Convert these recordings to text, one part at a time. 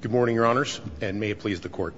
Good morning, Your Honors, and may it please the Court.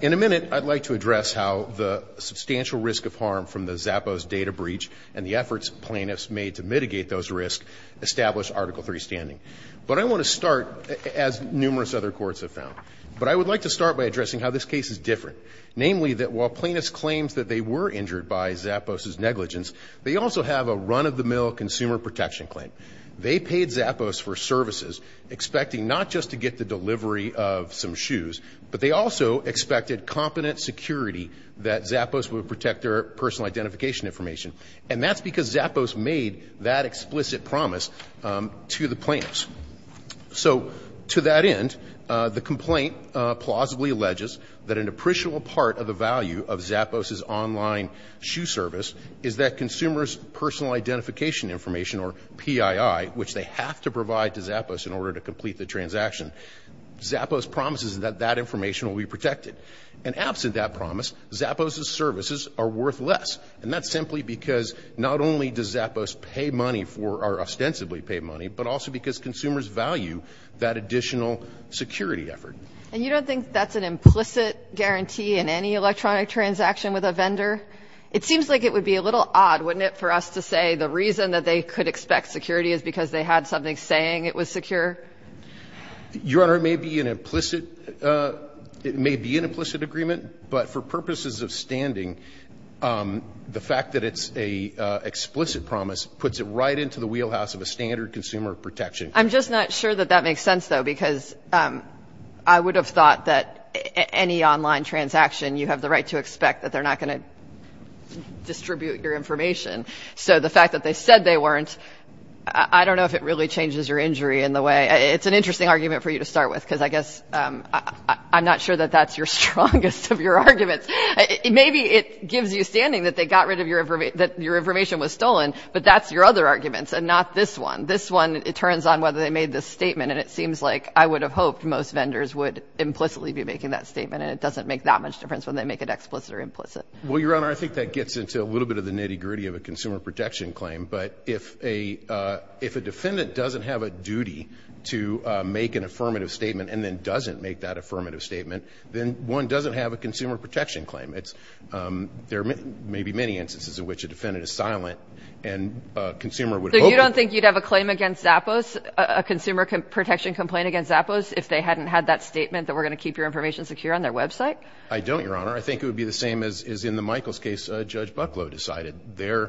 In a minute, I'd like to address how the substantial risk of harm from the Zappos data breach and the efforts plaintiffs made to mitigate those risks established Article III standing. But I want to start, as numerous other courts have found, but I would like to start by addressing how this case is different, namely that while plaintiffs claimed that they were injured by Zappos's negligence, they also have a run-of-the-mill consumer protection claim. They paid Zappos for services, expecting not just to get the delivery of some shoes, but they also expected competent security that Zappos would protect their personal identification information. And that's because Zappos made that explicit promise to the plaintiffs. So to that end, the complaint plausibly alleges that an appreciable part of the value of Zappos's online shoe service is that consumers' personal identification information, or PII, which they have to provide to Zappos in order to complete the transaction, Zappos promises that that information will be protected. And absent that promise, Zappos's services are worth less. And that's simply because not only does Zappos pay money for or ostensibly pay money, but also because consumers value that additional security effort. And you don't think that's an implicit guarantee in any electronic transaction with a vendor? It seems like it would be a little odd, wouldn't it, for us to say the reason that they could expect security is because they had something saying it was secure? Your Honor, it may be an implicit agreement, but for purposes of standing, the fact that it's an explicit promise puts it right into the wheelhouse of a standard consumer protection. I'm just not sure that that makes sense, though, because I would have thought that any online transaction, you have the right to expect that they're not going to distribute your information. So the fact that they said they weren't, I don't know if it really changes your injury in the way. It's an interesting argument for you to start with, because I guess I'm not sure that that's your strongest of your arguments. Maybe it gives you standing that they got rid of your information, that your information was stolen, but that's your other arguments and not this one. This one, it turns on whether they made this statement, and it seems like I would have hoped most vendors would implicitly be making that statement, and it doesn't make that much difference when they make it explicit or implicit. Well, Your Honor, I think that gets into a little bit of the nitty-gritty of a consumer protection claim, but if a defendant doesn't have a duty to make an affirmative statement and then doesn't make that affirmative statement, then one doesn't have a consumer protection claim. There may be many instances in which a defendant is silent and a consumer would hope. So you don't think you'd have a claim against Zappos, a consumer protection complaint against Zappos, if they hadn't had that statement that we're going to keep your information secure on their website? I don't, Your Honor. I think it would be the same as in the Michaels case Judge Bucklow decided. Their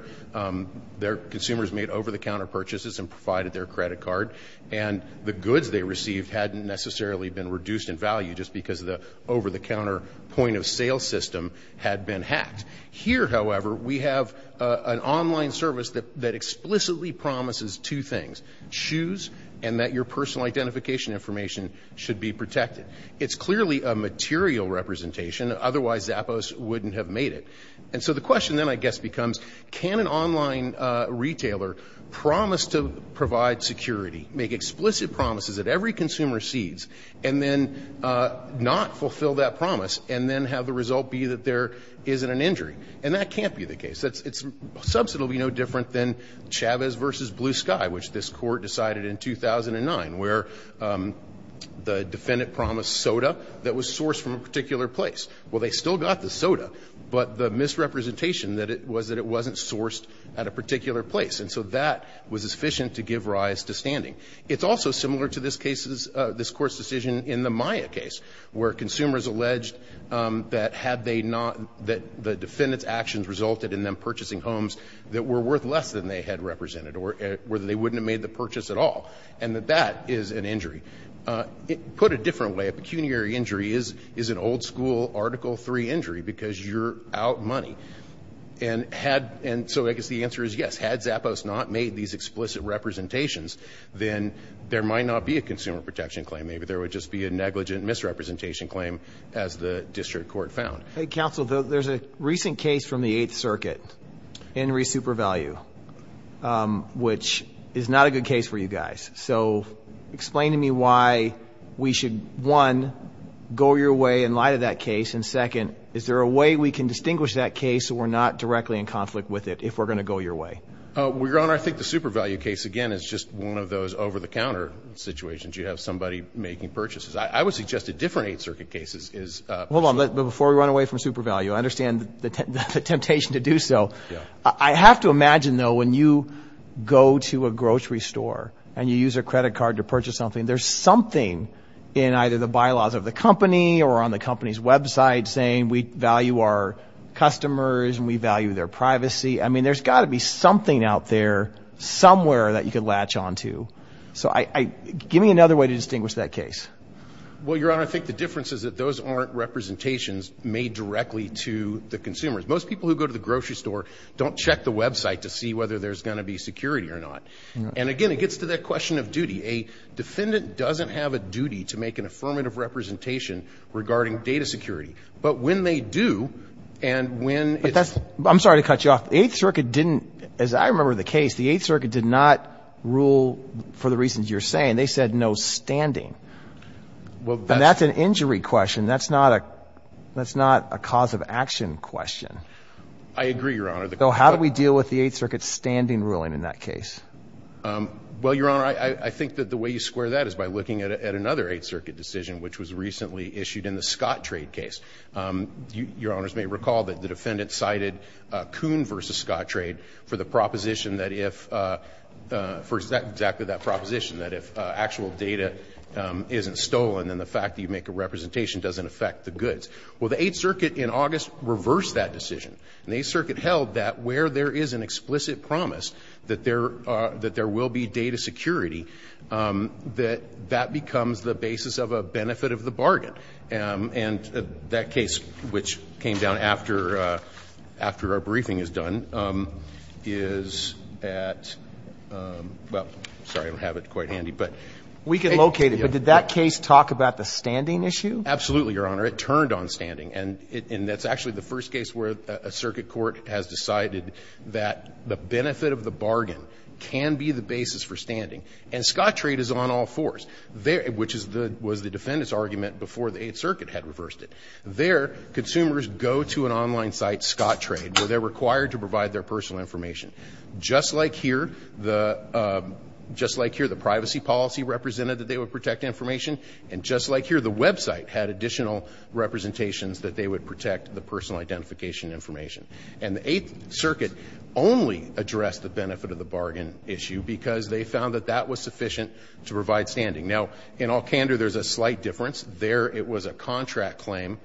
consumers made over-the-counter purchases and provided their credit card, and the goods they received hadn't necessarily been reduced in value just because the over-the-counter point-of-sale system had been hacked. Here, however, we have an online service that explicitly promises two things, choose and that your personal identification information should be protected. It's clearly a material representation. Otherwise, Zappos wouldn't have made it. And so the question then, I guess, becomes can an online retailer promise to provide security, make explicit promises that every consumer sees, and then not fulfill that promise and then have the result be that there isn't an injury? And that can't be the case. Its subset will be no different than Chavez v. Blue Sky, which this Court decided in 2009, where the defendant promised soda that was sourced from a particular place. Well, they still got the soda, but the misrepresentation was that it wasn't sourced at a particular place. And so that was sufficient to give rise to standing. It's also similar to this Court's decision in the Maya case, where consumers alleged that the defendant's actions resulted in them purchasing homes that were worth less than they had represented or that they wouldn't have made the purchase at all, and that that is an injury. Put a different way, a pecuniary injury is an old-school Article III injury because you're out money. And so I guess the answer is yes, had Zappos not made these explicit representations, then there might not be a consumer protection claim. Maybe there would just be a negligent misrepresentation claim, as the district court found. Counsel, there's a recent case from the Eighth Circuit, Henry Supervalue, which is not a good case for you guys. So explain to me why we should, one, go your way in light of that case, and, second, is there a way we can distinguish that case so we're not directly in conflict with it if we're going to go your way? Your Honor, I think the Supervalue case, again, is just one of those over-the-counter situations. You have somebody making purchases. I would suggest a different Eighth Circuit case is – Hold on. Before we run away from Supervalue, I understand the temptation to do so. I have to imagine, though, when you go to a grocery store and you use a credit card to purchase something, there's something in either the bylaws of the company or on the company's website saying we value our customers and we value their privacy. I mean, there's got to be something out there somewhere that you could latch on to. So give me another way to distinguish that case. Well, Your Honor, I think the difference is that those aren't representations made directly to the consumers. Most people who go to the grocery store don't check the website to see whether there's going to be security or not. And, again, it gets to that question of duty. A defendant doesn't have a duty to make an affirmative representation regarding data security. But when they do, and when it's – I'm sorry to cut you off. The Eighth Circuit didn't – as I remember the case, the Eighth Circuit did not rule for the reasons you're saying. They said no standing. And that's an injury question. That's not a cause of action question. I agree, Your Honor. So how do we deal with the Eighth Circuit's standing ruling in that case? Well, Your Honor, I think that the way you square that is by looking at another Eighth Circuit decision, which was recently issued in the Scott trade case. Your Honors may recall that the defendant cited Kuhn v. Scott trade for the proposition that if – for exactly that proposition, that if actual data isn't stolen, then the fact that you make a representation doesn't affect the goods. Well, the Eighth Circuit in August reversed that decision. And the Eighth Circuit held that where there is an explicit promise that there are – that there will be data security, that that becomes the basis of a benefit of the bargain. And that case, which came down after our briefing is done, is at – well, sorry, I don't have it quite handy. But we can locate it. But did that case talk about the standing issue? Absolutely, Your Honor. It turned on standing. And that's actually the first case where a circuit court has decided that the benefit of the bargain can be the basis for standing. And Scott trade is on all fours, which is the – was the defendant's argument before the Eighth Circuit had reversed it. There, consumers go to an online site, Scott trade, where they're required to provide their personal information. Just like here, the – just like here, the privacy policy represented that they would protect information. And just like here, the website had additional representations that they would protect the personal identification information. And the Eighth Circuit only addressed the benefit of the bargain issue because they found that that was sufficient to provide standing. Now, in Alcantara, there's a slight difference. There, it was a contract claim,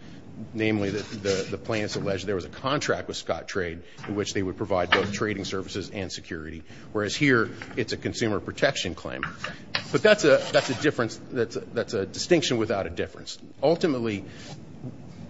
namely the plaintiffs alleged there was a contract with Scott trade in which they would provide both trading services and security, whereas here it's a consumer protection claim. But that's a – that's a difference – that's a distinction without a difference. Ultimately,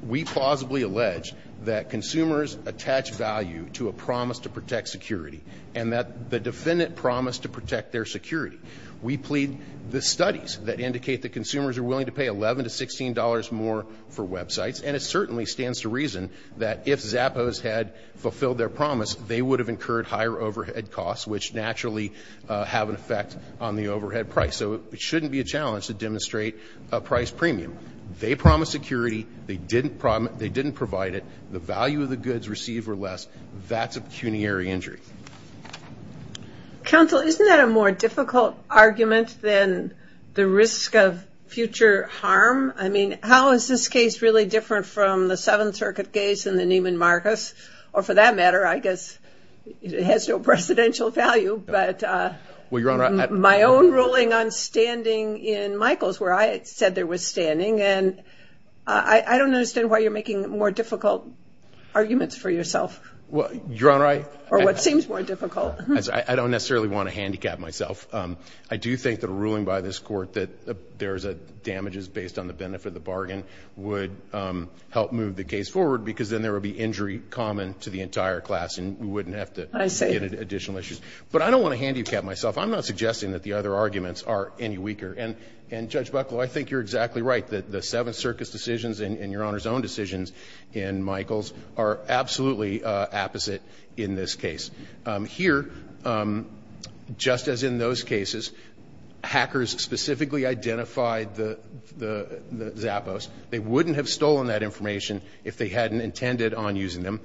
we plausibly allege that consumers attach value to a promise to protect security and that the defendant promised to protect their security. We plead the studies that indicate that consumers are willing to pay $11 to $16 more for websites, and it certainly stands to reason that if Zappos had fulfilled their promise, they would have incurred higher overhead costs, which naturally have an effect on the overhead price. So it shouldn't be a challenge to demonstrate a price premium. They promised security. They didn't – they didn't provide it. The value of the goods received were less. That's a pecuniary injury. Counsel, isn't that a more difficult argument than the risk of future harm? I mean, how is this case really different from the Seventh Circuit case and the Neiman Marcus? Or for that matter, I guess it has no presidential value. But my own ruling on standing in Michaels, where I said there was standing, and I don't understand why you're making more difficult arguments for yourself. Well, Your Honor, I – Or what seems more difficult. I don't necessarily want to handicap myself. I do think that a ruling by this Court that there is a damages based on the benefit of the bargain would help move the case forward because then there would be injury common to the entire class, and we wouldn't have to get additional issues. But I don't want to handicap myself. I'm not suggesting that the other arguments are any weaker. And, Judge Bucklow, I think you're exactly right, that the Seventh Circuit's decisions and Your Honor's own decisions in Michaels are absolutely opposite in this case. Here, just as in those cases, hackers specifically identified the Zappos. They wouldn't have stolen that information if they hadn't intended on using them.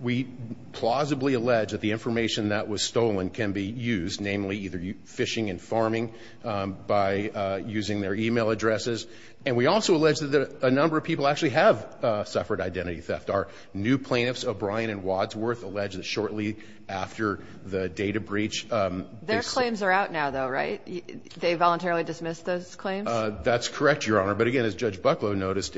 We plausibly allege that the information that was stolen can be used, namely either fishing and farming by using their email addresses. And we also allege that a number of people actually have suffered identity theft. Our new plaintiffs, O'Brien and Wadsworth, allege that shortly after the data breach. Their claims are out now, though, right? They voluntarily dismissed those claims? That's correct, Your Honor. But, again, as Judge Bucklow noted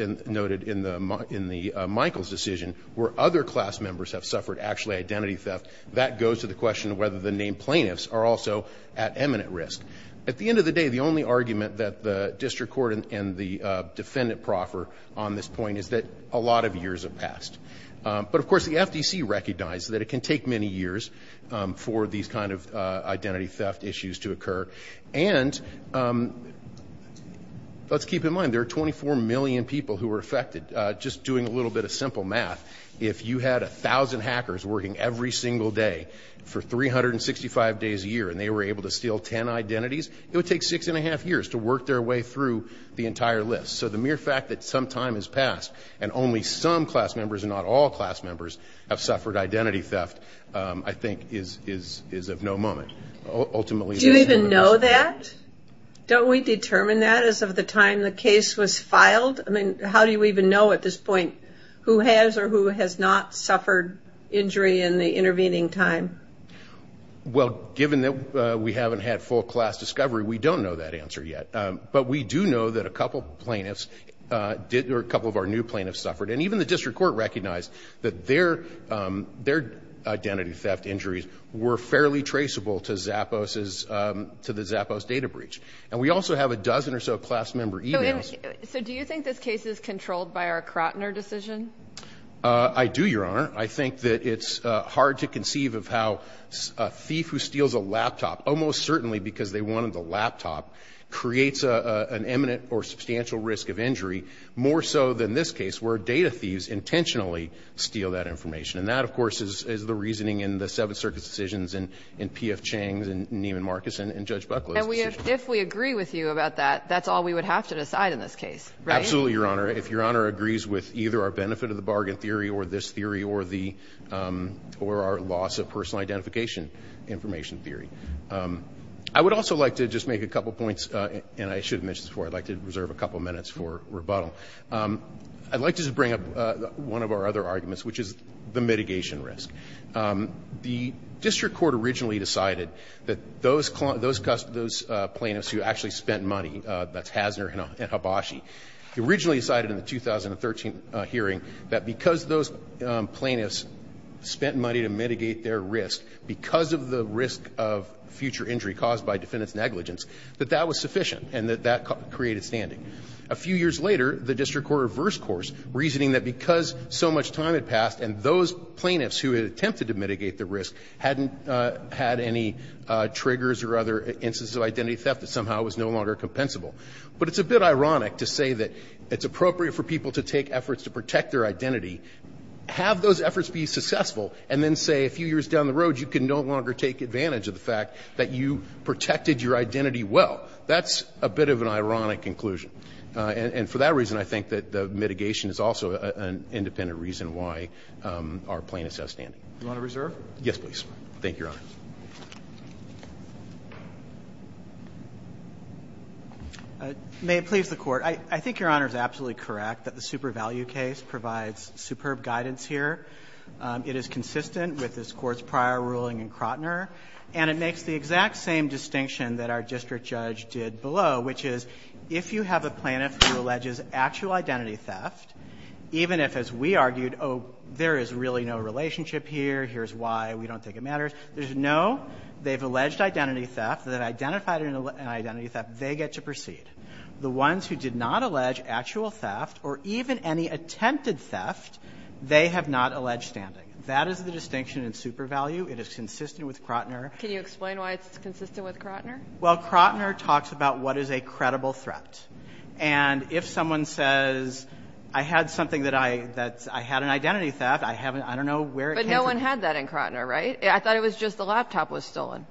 in the Michaels decision, where other class members have suffered actually identity theft, that goes to the question of whether the named plaintiffs are also at imminent risk. At the end of the day, the only argument that the district court and the defendant proffer on this point is that a lot of years have passed. But, of course, the FDC recognized that it can take many years for these kind of identity theft issues to occur. And let's keep in mind there are 24 million people who are affected. Just doing a little bit of simple math, if you had 1,000 hackers working every single day for 365 days a year and they were able to steal 10 identities, it would take six and a half years to work their way through the entire list. So the mere fact that some time has passed and only some class members and not all class members have suffered identity theft, I think is of no moment. Do you even know that? Don't we determine that as of the time the case was filed? I mean, how do you even know at this point who has or who has not suffered injury in the intervening time? Well, given that we haven't had full class discovery, we don't know that answer yet. But we do know that a couple plaintiffs or a couple of our new plaintiffs suffered. And even the district court recognized that their identity theft injuries were fairly traceable to the Zappos data breach. And we also have a dozen or so class member emails. So do you think this case is controlled by our Crotner decision? I do, Your Honor. I think that it's hard to conceive of how a thief who steals a laptop, almost certainly because they wanted the laptop, creates an imminent or substantial risk of injury, more so than this case where data thieves intentionally steal that information. And that, of course, is the reasoning in the Seventh Circuit's decisions and P.F. Chang's and Neiman Marcus' and Judge Buckley's decisions. And if we agree with you about that, that's all we would have to decide in this case, right? Absolutely, Your Honor. If Your Honor agrees with either our benefit of the bargain theory or this theory or our loss of personal identification information theory. I would also like to just make a couple of points, and I should have mentioned this before, I'd like to reserve a couple of minutes for rebuttal. I'd like to just bring up one of our other arguments, which is the mitigation risk. The district court originally decided that those plaintiffs who actually spent money, that's Hasner and Habashi, originally decided in the 2013 hearing that because those plaintiffs spent money to mitigate their risk, because of the risk of future injury caused by defendant's negligence, that that was sufficient and that that created standing. A few years later, the district court reversed course, reasoning that because so much time had passed and those plaintiffs who had attempted to mitigate the risk hadn't had any triggers or other instances of identity theft that somehow was no longer compensable. But it's a bit ironic to say that it's appropriate for people to take efforts to protect their identity, have those efforts be successful, and then say a few years down the road, you can no longer take advantage of the fact that you protected your identity well. That's a bit of an ironic conclusion. And for that reason, I think that the mitigation is also an independent reason why our plaintiffs have standing. Yes, please. Thank you, Your Honor. May it please the Court. I think Your Honor is absolutely correct that the super value case provides superb guidance here. It is consistent with this Court's prior ruling in Crotner. And it makes the exact same distinction that our district judge did below, which is if you have a plaintiff who alleges actual identity theft, even if, as we argued, oh, there is really no relationship here, here's why, we don't think it matters, there's no, they've alleged identity theft, they've identified an identity theft, they get to proceed. The ones who did not allege actual theft or even any attempted theft, they have not alleged standing. That is the distinction in super value. It is consistent with Crotner. Can you explain why it's consistent with Crotner? Well, Crotner talks about what is a credible threat. And if someone says, I had something that I had an identity theft, I don't know where it came from. But no one had that in Crotner, right? I thought it was just the laptop was stolen.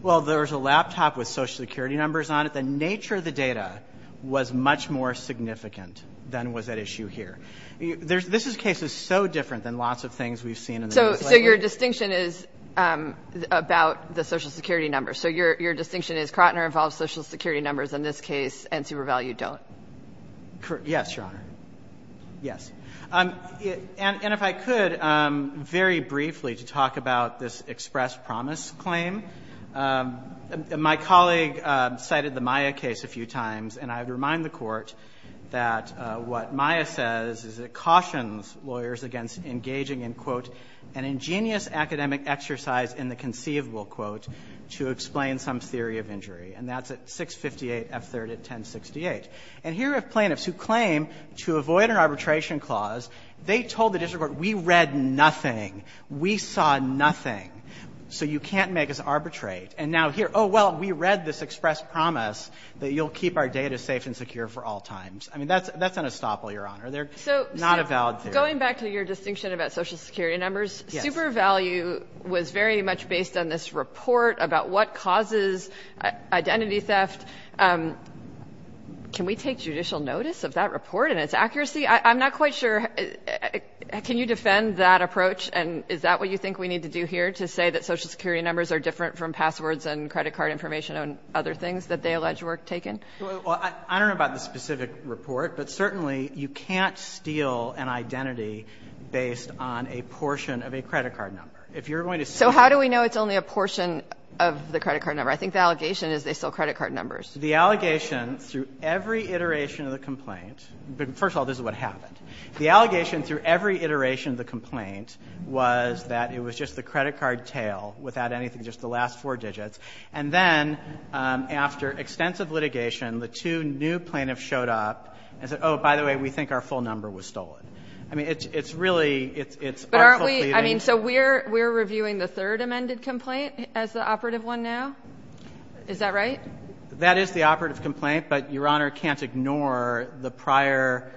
Well, there was a laptop with Social Security numbers on it. The nature of the data was much more significant than was at issue here. This case is so different than lots of things we've seen in the news lately. So your distinction is about the Social Security numbers. So your distinction is Crotner involves Social Security numbers in this case and super value don't. Yes, Your Honor. Yes. And if I could, very briefly, to talk about this express promise claim. My colleague cited the Maya case a few times. And I would remind the Court that what Maya says is it cautions lawyers against engaging in, quote, an ingenious academic exercise in the conceivable, quote, to explain some theory of injury. And that's at 658 F. 3rd at 1068. And here are plaintiffs who claim to avoid an arbitration clause. They told the district court, we read nothing. We saw nothing. So you can't make us arbitrate. And now here, oh, well, we read this express promise that you'll keep our data safe and secure for all times. I mean, that's an estoppel, Your Honor. They're not a valid theory. So going back to your distinction about Social Security numbers, super value was very much based on this report about what causes identity theft. Can we take judicial notice of that report and its accuracy? I'm not quite sure. Can you defend that approach? And is that what you think we need to do here, to say that Social Security numbers are different from passwords and credit card information and other things that they allege were taken? Well, I don't know about the specific report, but certainly you can't steal an identity based on a portion of a credit card number. So how do we know it's only a portion of the credit card number? I think the allegation is they stole credit card numbers. The allegation through every iteration of the complaint, but first of all, this is what happened. The allegation through every iteration of the complaint was that it was just the credit card tail without anything, just the last four digits. And then after extensive litigation, the two new plaintiffs showed up and said, oh, by the way, we think our full number was stolen. I mean, it's really, it's awful. I mean, so we're reviewing the third amended complaint as the operative one now? Is that right? That is the operative complaint, but Your Honor can't ignore the prior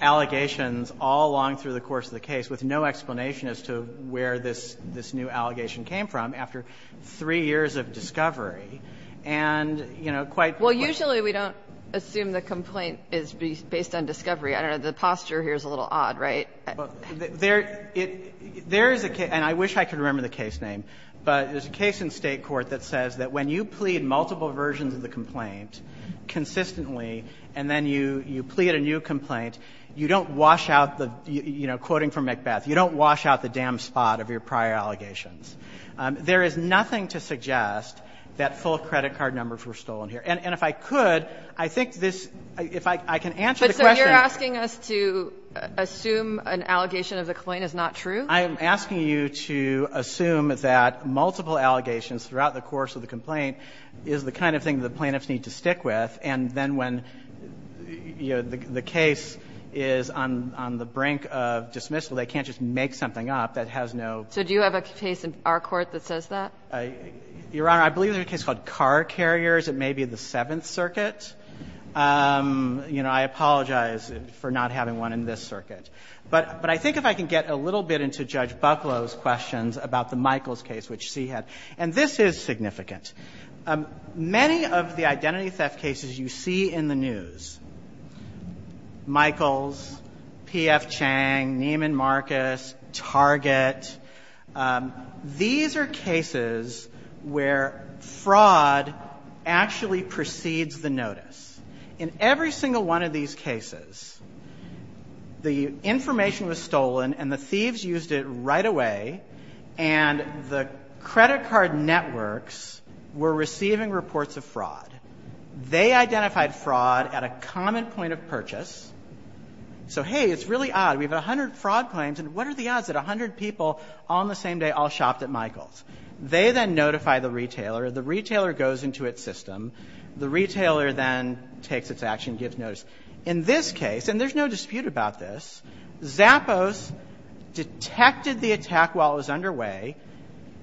allegations all along through the course of the case with no explanation as to where this new allegation came from after three years of discovery. And, you know, quite quickly. Well, usually we don't assume the complaint is based on discovery. I don't know. The posture here is a little odd, right? Well, there is a case, and I wish I could remember the case name, but there's a case in State court that says that when you plead multiple versions of the complaint consistently and then you plead a new complaint, you don't wash out the, you know, quoting from Macbeth, you don't wash out the damn spot of your prior allegations. There is nothing to suggest that full credit card numbers were stolen here. And if I could, I think this, if I can answer the question. So you're asking us to assume an allegation of the complaint is not true? I am asking you to assume that multiple allegations throughout the course of the complaint is the kind of thing the plaintiffs need to stick with, and then when, you know, the case is on the brink of dismissal, they can't just make something up that has no. So do you have a case in our court that says that? Your Honor, I believe there's a case called Car Carriers. It may be the Seventh Circuit. You know, I apologize for not having one in this circuit. But I think if I can get a little bit into Judge Bucklow's questions about the Michaels case, which she had, and this is significant. Many of the identity theft cases you see in the news, Michaels, P.F. Chang, Neiman Marcus, Target, these are cases where fraud actually precedes the notice. In every single one of these cases, the information was stolen and the thieves used it right away, and the credit card networks were receiving reports of fraud. They identified fraud at a common point of purchase. So, hey, it's really odd. We have 100 fraud claims, and what are the odds that 100 people on the same day all shopped at Michaels? They then notify the retailer. The retailer goes into its system. The retailer then takes its action, gives notice. In this case, and there's no dispute about this, Zappos detected the attack while it was underway,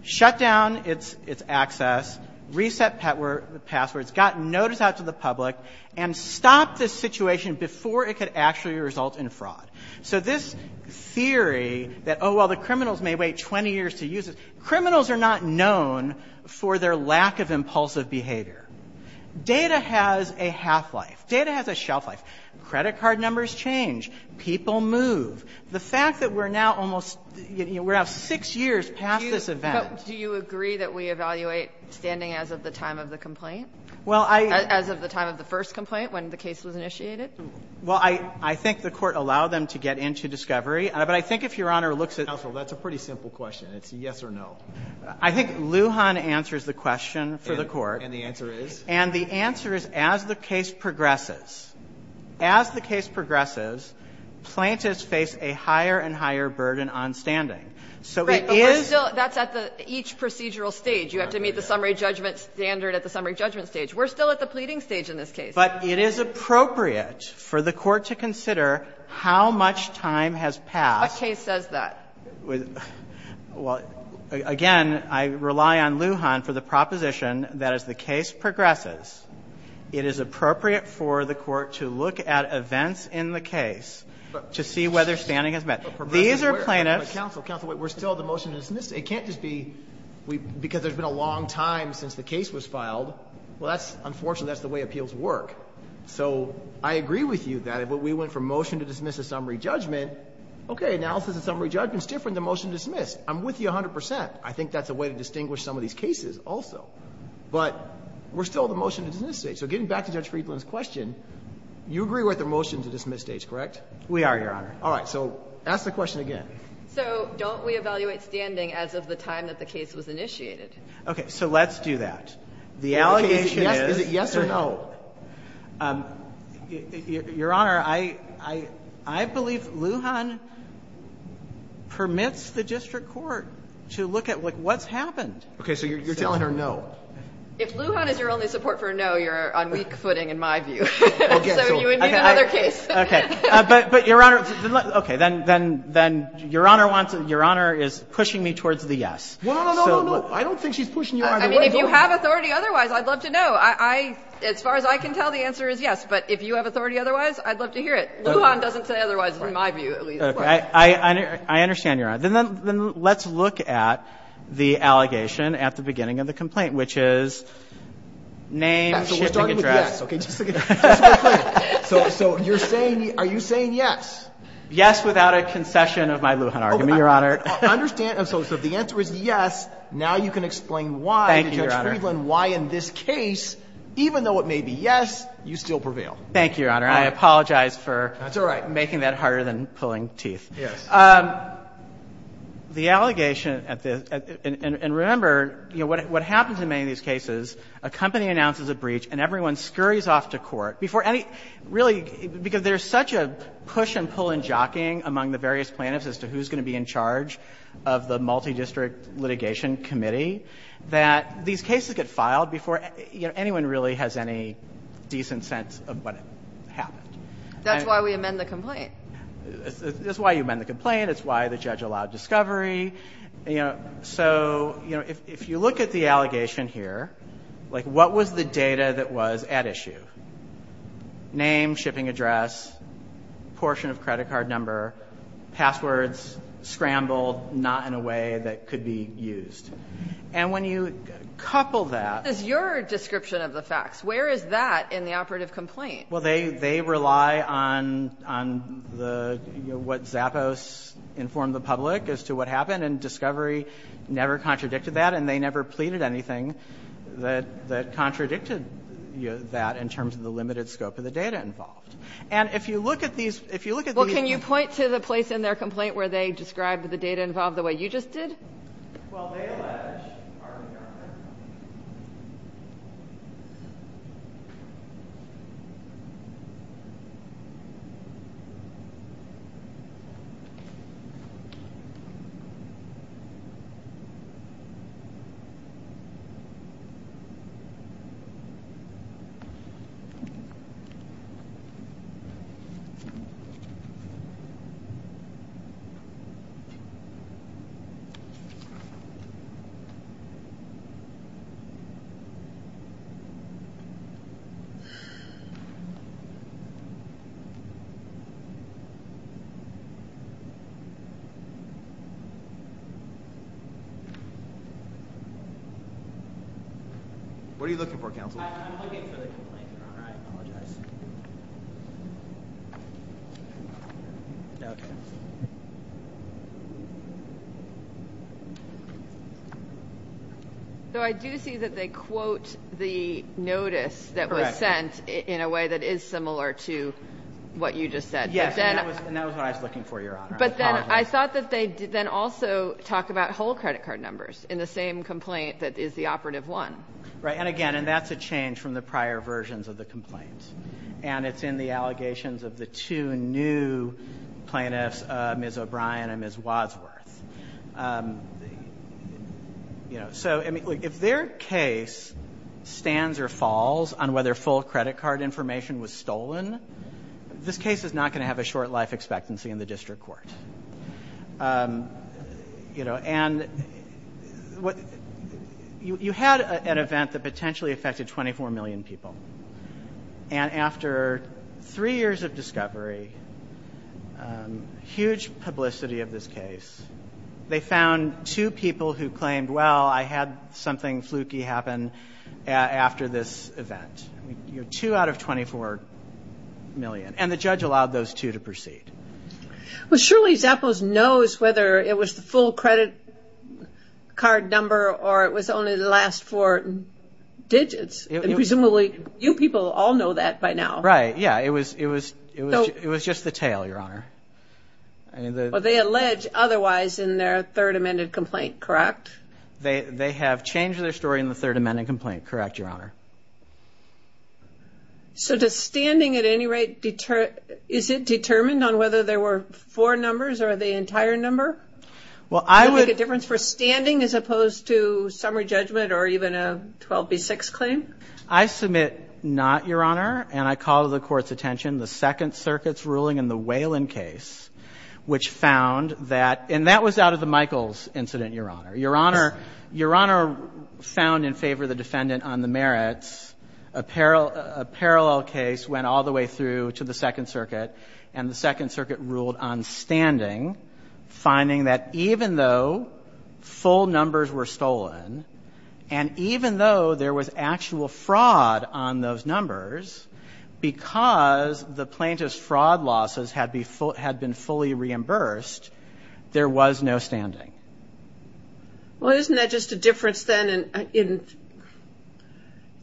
shut down its access, reset passwords, got notice out to the public, and stopped the situation before it could actually result in fraud. So this theory that, oh, well, the criminals may wait 20 years to use it, criminals are not known for their lack of impulsive behavior. Data has a half-life. Data has a shelf-life. Credit card numbers change. People move. The fact that we're now almost, you know, we're now 6 years past this event. But do you agree that we evaluate standing as of the time of the complaint? Well, I. As of the time of the first complaint when the case was initiated? Well, I think the Court allowed them to get into discovery. But I think if Your Honor looks at. Counsel, that's a pretty simple question. It's a yes or no. I think Lujan answers the question for the Court. And the answer is? And the answer is, as the case progresses, as the case progresses, plaintiffs face a higher and higher burden on standing. So it is. Right. But we're still. That's at the each procedural stage. You have to meet the summary judgment standard at the summary judgment stage. We're still at the pleading stage in this case. But it is appropriate for the Court to consider how much time has passed. A case says that. Well, again, I rely on Lujan for the proposition that as the case progresses, it is appropriate for the Court to look at events in the case to see whether standing has met. These are plaintiffs. Counsel, counsel, wait. We're still at the motion to dismiss. It can't just be because there's been a long time since the case was filed. Well, that's, unfortunately, that's the way appeals work. So I agree with you that if we went from motion to dismiss at summary judgment, okay, analysis at summary judgment is different than motion to dismiss. I'm with you 100 percent. I think that's a way to distinguish some of these cases also. But we're still at the motion to dismiss stage. So getting back to Judge Friedland's question, you agree we're at the motion to dismiss stage, correct? We are, Your Honor. All right. So ask the question again. So don't we evaluate standing as of the time that the case was initiated? Okay. So let's do that. The allegation is. Is it yes or no? Your Honor, I believe Lujan permits the district court to look at what's happened. Okay. So you're telling her no. If Lujan is your only support for a no, you're on weak footing in my view. Okay. So you would need another case. Okay. But, Your Honor. Then Your Honor is pushing me towards the yes. No, no, no, no, no. I don't think she's pushing you either way. I mean, if you have authority otherwise, I'd love to know. As far as I can tell, the answer is yes. But if you have authority otherwise, I'd love to hear it. Lujan doesn't say otherwise in my view. Okay. I understand, Your Honor. Then let's look at the allegation at the beginning of the complaint, which is name, shipping address. So we're starting with yes. Okay. So you're saying, are you saying yes? Yes without a concession of my Lujan argument, Your Honor. I understand. So the answer is yes. Now you can explain why. Thank you, Your Honor. You can explain why in this case, even though it may be yes, you still prevail. Thank you, Your Honor. I apologize for making that harder than pulling teeth. Yes. The allegation at this, and remember, you know, what happens in many of these cases, a company announces a breach and everyone scurries off to court before any, really, because there's such a push and pull in jockeying among the various plaintiffs as to who's going to be in charge of the multidistrict litigation committee that these cases get filed before, you know, anyone really has any decent sense of what happened. That's why we amend the complaint. That's why you amend the complaint. It's why the judge allowed discovery. You know, so, you know, if you look at the allegation here, like, what was the data that was at issue? Name, shipping address, portion of credit card number, passwords scrambled, not in a way that could be used. And when you couple that. What is your description of the facts? Where is that in the operative complaint? Well, they rely on the, you know, what Zappos informed the public as to what happened, and discovery never contradicted that, and they never pleaded anything that contradicted that in terms of the limited scope of the data involved. And if you look at these, if you look at these. Can you point to the place in their complaint where they describe the data involved the way you just did? Well, they allege. What are you looking for, counsel? I'm looking for the complaint. I apologize. So I do see that they quote the notice that was sent in a way that is similar to what you just said. Yes, and that was what I was looking for, Your Honor. But then I thought that they then also talk about whole credit card numbers in the same complaint that is the operative one. Right, and again, and that's a change from the prior versions of the complaint. And it's in the allegations of the two new plaintiffs, Ms. O'Brien and Ms. Wadsworth. You know, so if their case stands or falls on whether full credit card information was stolen, this case is not going to have a short life expectancy in the district court. You know, and you had an event that potentially affected 24 million people. And after three years of discovery, huge publicity of this case, they found two people who claimed, well, I had something fluky happen after this event. Two out of 24 million. And the judge allowed those two to proceed. Well, surely Zappos knows whether it was the full credit card number or it was only the last four digits. And presumably you people all know that by now. Right, yeah, it was just the tale, Your Honor. Well, they allege otherwise in their third amended complaint, correct? They have changed their story in the third amended complaint, correct, Your Honor. So does standing at any rate determine, is it determined on whether there were four numbers or the entire number? Would it make a difference for standing as opposed to summary judgment or even a 12B6 claim? I submit not, Your Honor. And I call to the Court's attention the Second Circuit's ruling in the Whelan case, which found that, and that was out of the Michaels incident, Your Honor. Your Honor found in favor of the defendant on the merits. A parallel case went all the way through to the Second Circuit, and the Second Circuit ruled on standing, finding that even though full numbers were stolen, and even though there was actual fraud on those numbers, because the plaintiff's fraud losses had been fully reimbursed, there was no standing. Well, isn't that just a difference, then, in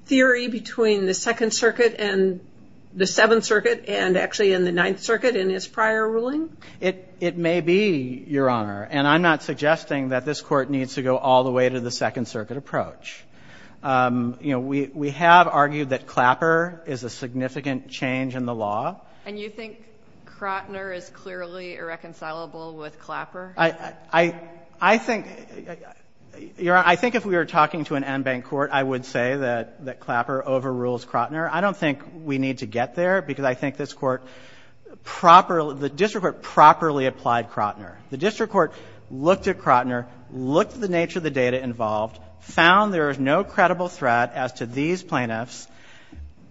theory between the Second Circuit and the Seventh Circuit, and actually in the Ninth Circuit in his prior ruling? It may be, Your Honor, and I'm not suggesting that this Court needs to go all the way to the Second Circuit approach. You know, we have argued that Clapper is a significant change in the law. And you think Crotner is clearly irreconcilable with Clapper? I think, Your Honor, I think if we were talking to an en banc court, I would say that Clapper overrules Crotner. I don't think we need to get there, because I think this Court properly, the district court properly applied Crotner. The district court looked at Crotner, looked at the nature of the data involved, found there is no credible threat as to these plaintiffs,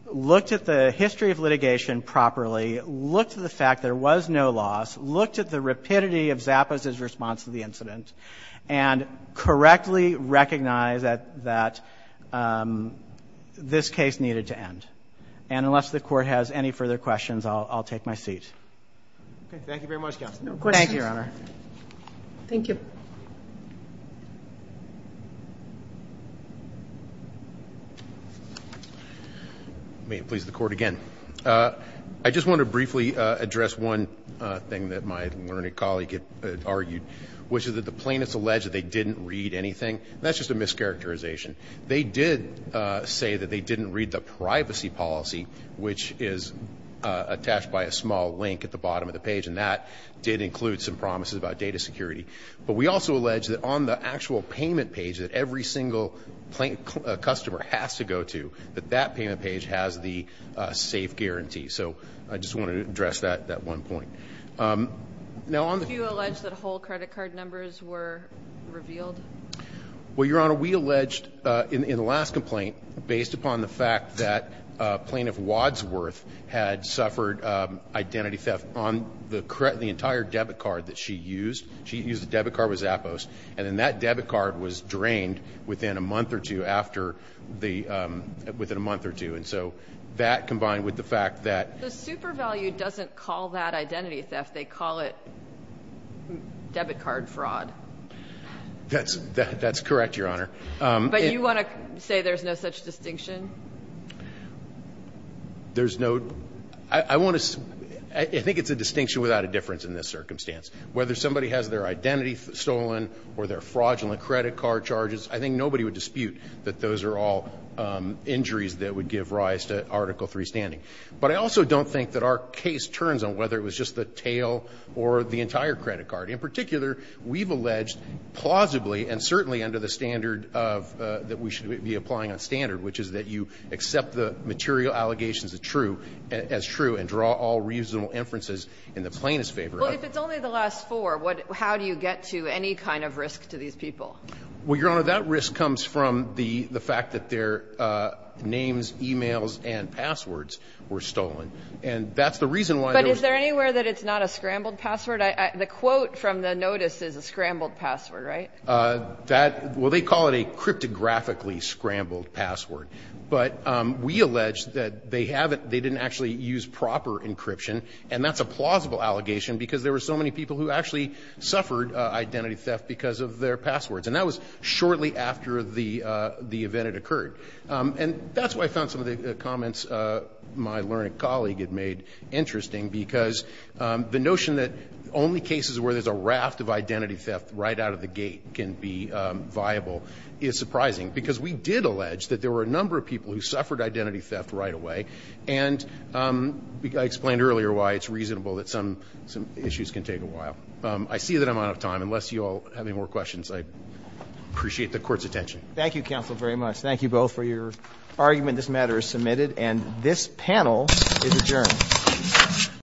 looked at the history of litigation properly, looked at the fact there was no loss, looked at the rapidity of Zappos' response to the incident, and correctly recognized that this case needed to end. And unless the Court has any further questions, I'll take my seat. Thank you very much, Counsel. No questions. Thank you, Your Honor. Thank you. May it please the Court again. I just want to briefly address one thing that my learned colleague argued, which is that the plaintiffs allege that they didn't read anything. That's just a mischaracterization. They did say that they didn't read the privacy policy, which is attached by a small link at the bottom of the page, and that did include some promises about data security. But we also allege that on the actual payment page that every single customer has to go to, that that payment page has the safe guarantee. So I just wanted to address that at one point. Do you allege that whole credit card numbers were revealed? Well, Your Honor, we alleged in the last complaint, based upon the fact that Plaintiff Wadsworth had suffered identity theft on the entire debit card that she used. She used the debit card with Zappos, and then that debit card was drained within a month or two after the ‑‑ within a month or two. And so that combined with the fact that ‑‑ The super value doesn't call that identity theft. They call it debit card fraud. That's correct, Your Honor. But you want to say there's no such distinction? There's no ‑‑ I want to ‑‑ I think it's a distinction without a difference in this circumstance. Whether somebody has their identity stolen or their fraudulent credit card charges, I think nobody would dispute that those are all injuries that would give rise to Article III standing. But I also don't think that our case turns on whether it was just the tail or the entire credit card. In particular, we've alleged plausibly and certainly under the standard of ‑‑ that we should be applying on standard, which is that you accept the material allegations as true and draw all reasonable inferences in the plaintiff's favor. Well, if it's only the last four, how do you get to any kind of risk to these people? Well, Your Honor, that risk comes from the fact that their names, e‑mails and passwords were stolen. And that's the reason why ‑‑ But is there anywhere that it's not a scrambled password? The quote from the notice is a scrambled password, right? That ‑‑ well, they call it a cryptographically scrambled password. But we allege that they didn't actually use proper encryption, and that's a plausible allegation because there were so many people who actually suffered identity theft because of their passwords. And that was shortly after the event had occurred. And that's why I found some of the comments my learned colleague had made interesting because the notion that only cases where there's a raft of identity theft right out of the gate can be viable is surprising, because we did allege that there were a number of people who suffered identity theft right away. And I explained earlier why it's reasonable that some issues can take a while. I see that I'm out of time. Unless you all have any more questions, I appreciate the court's attention. Thank you, counsel, very much. Thank you both for your argument. This matter is submitted. And this panel is adjourned.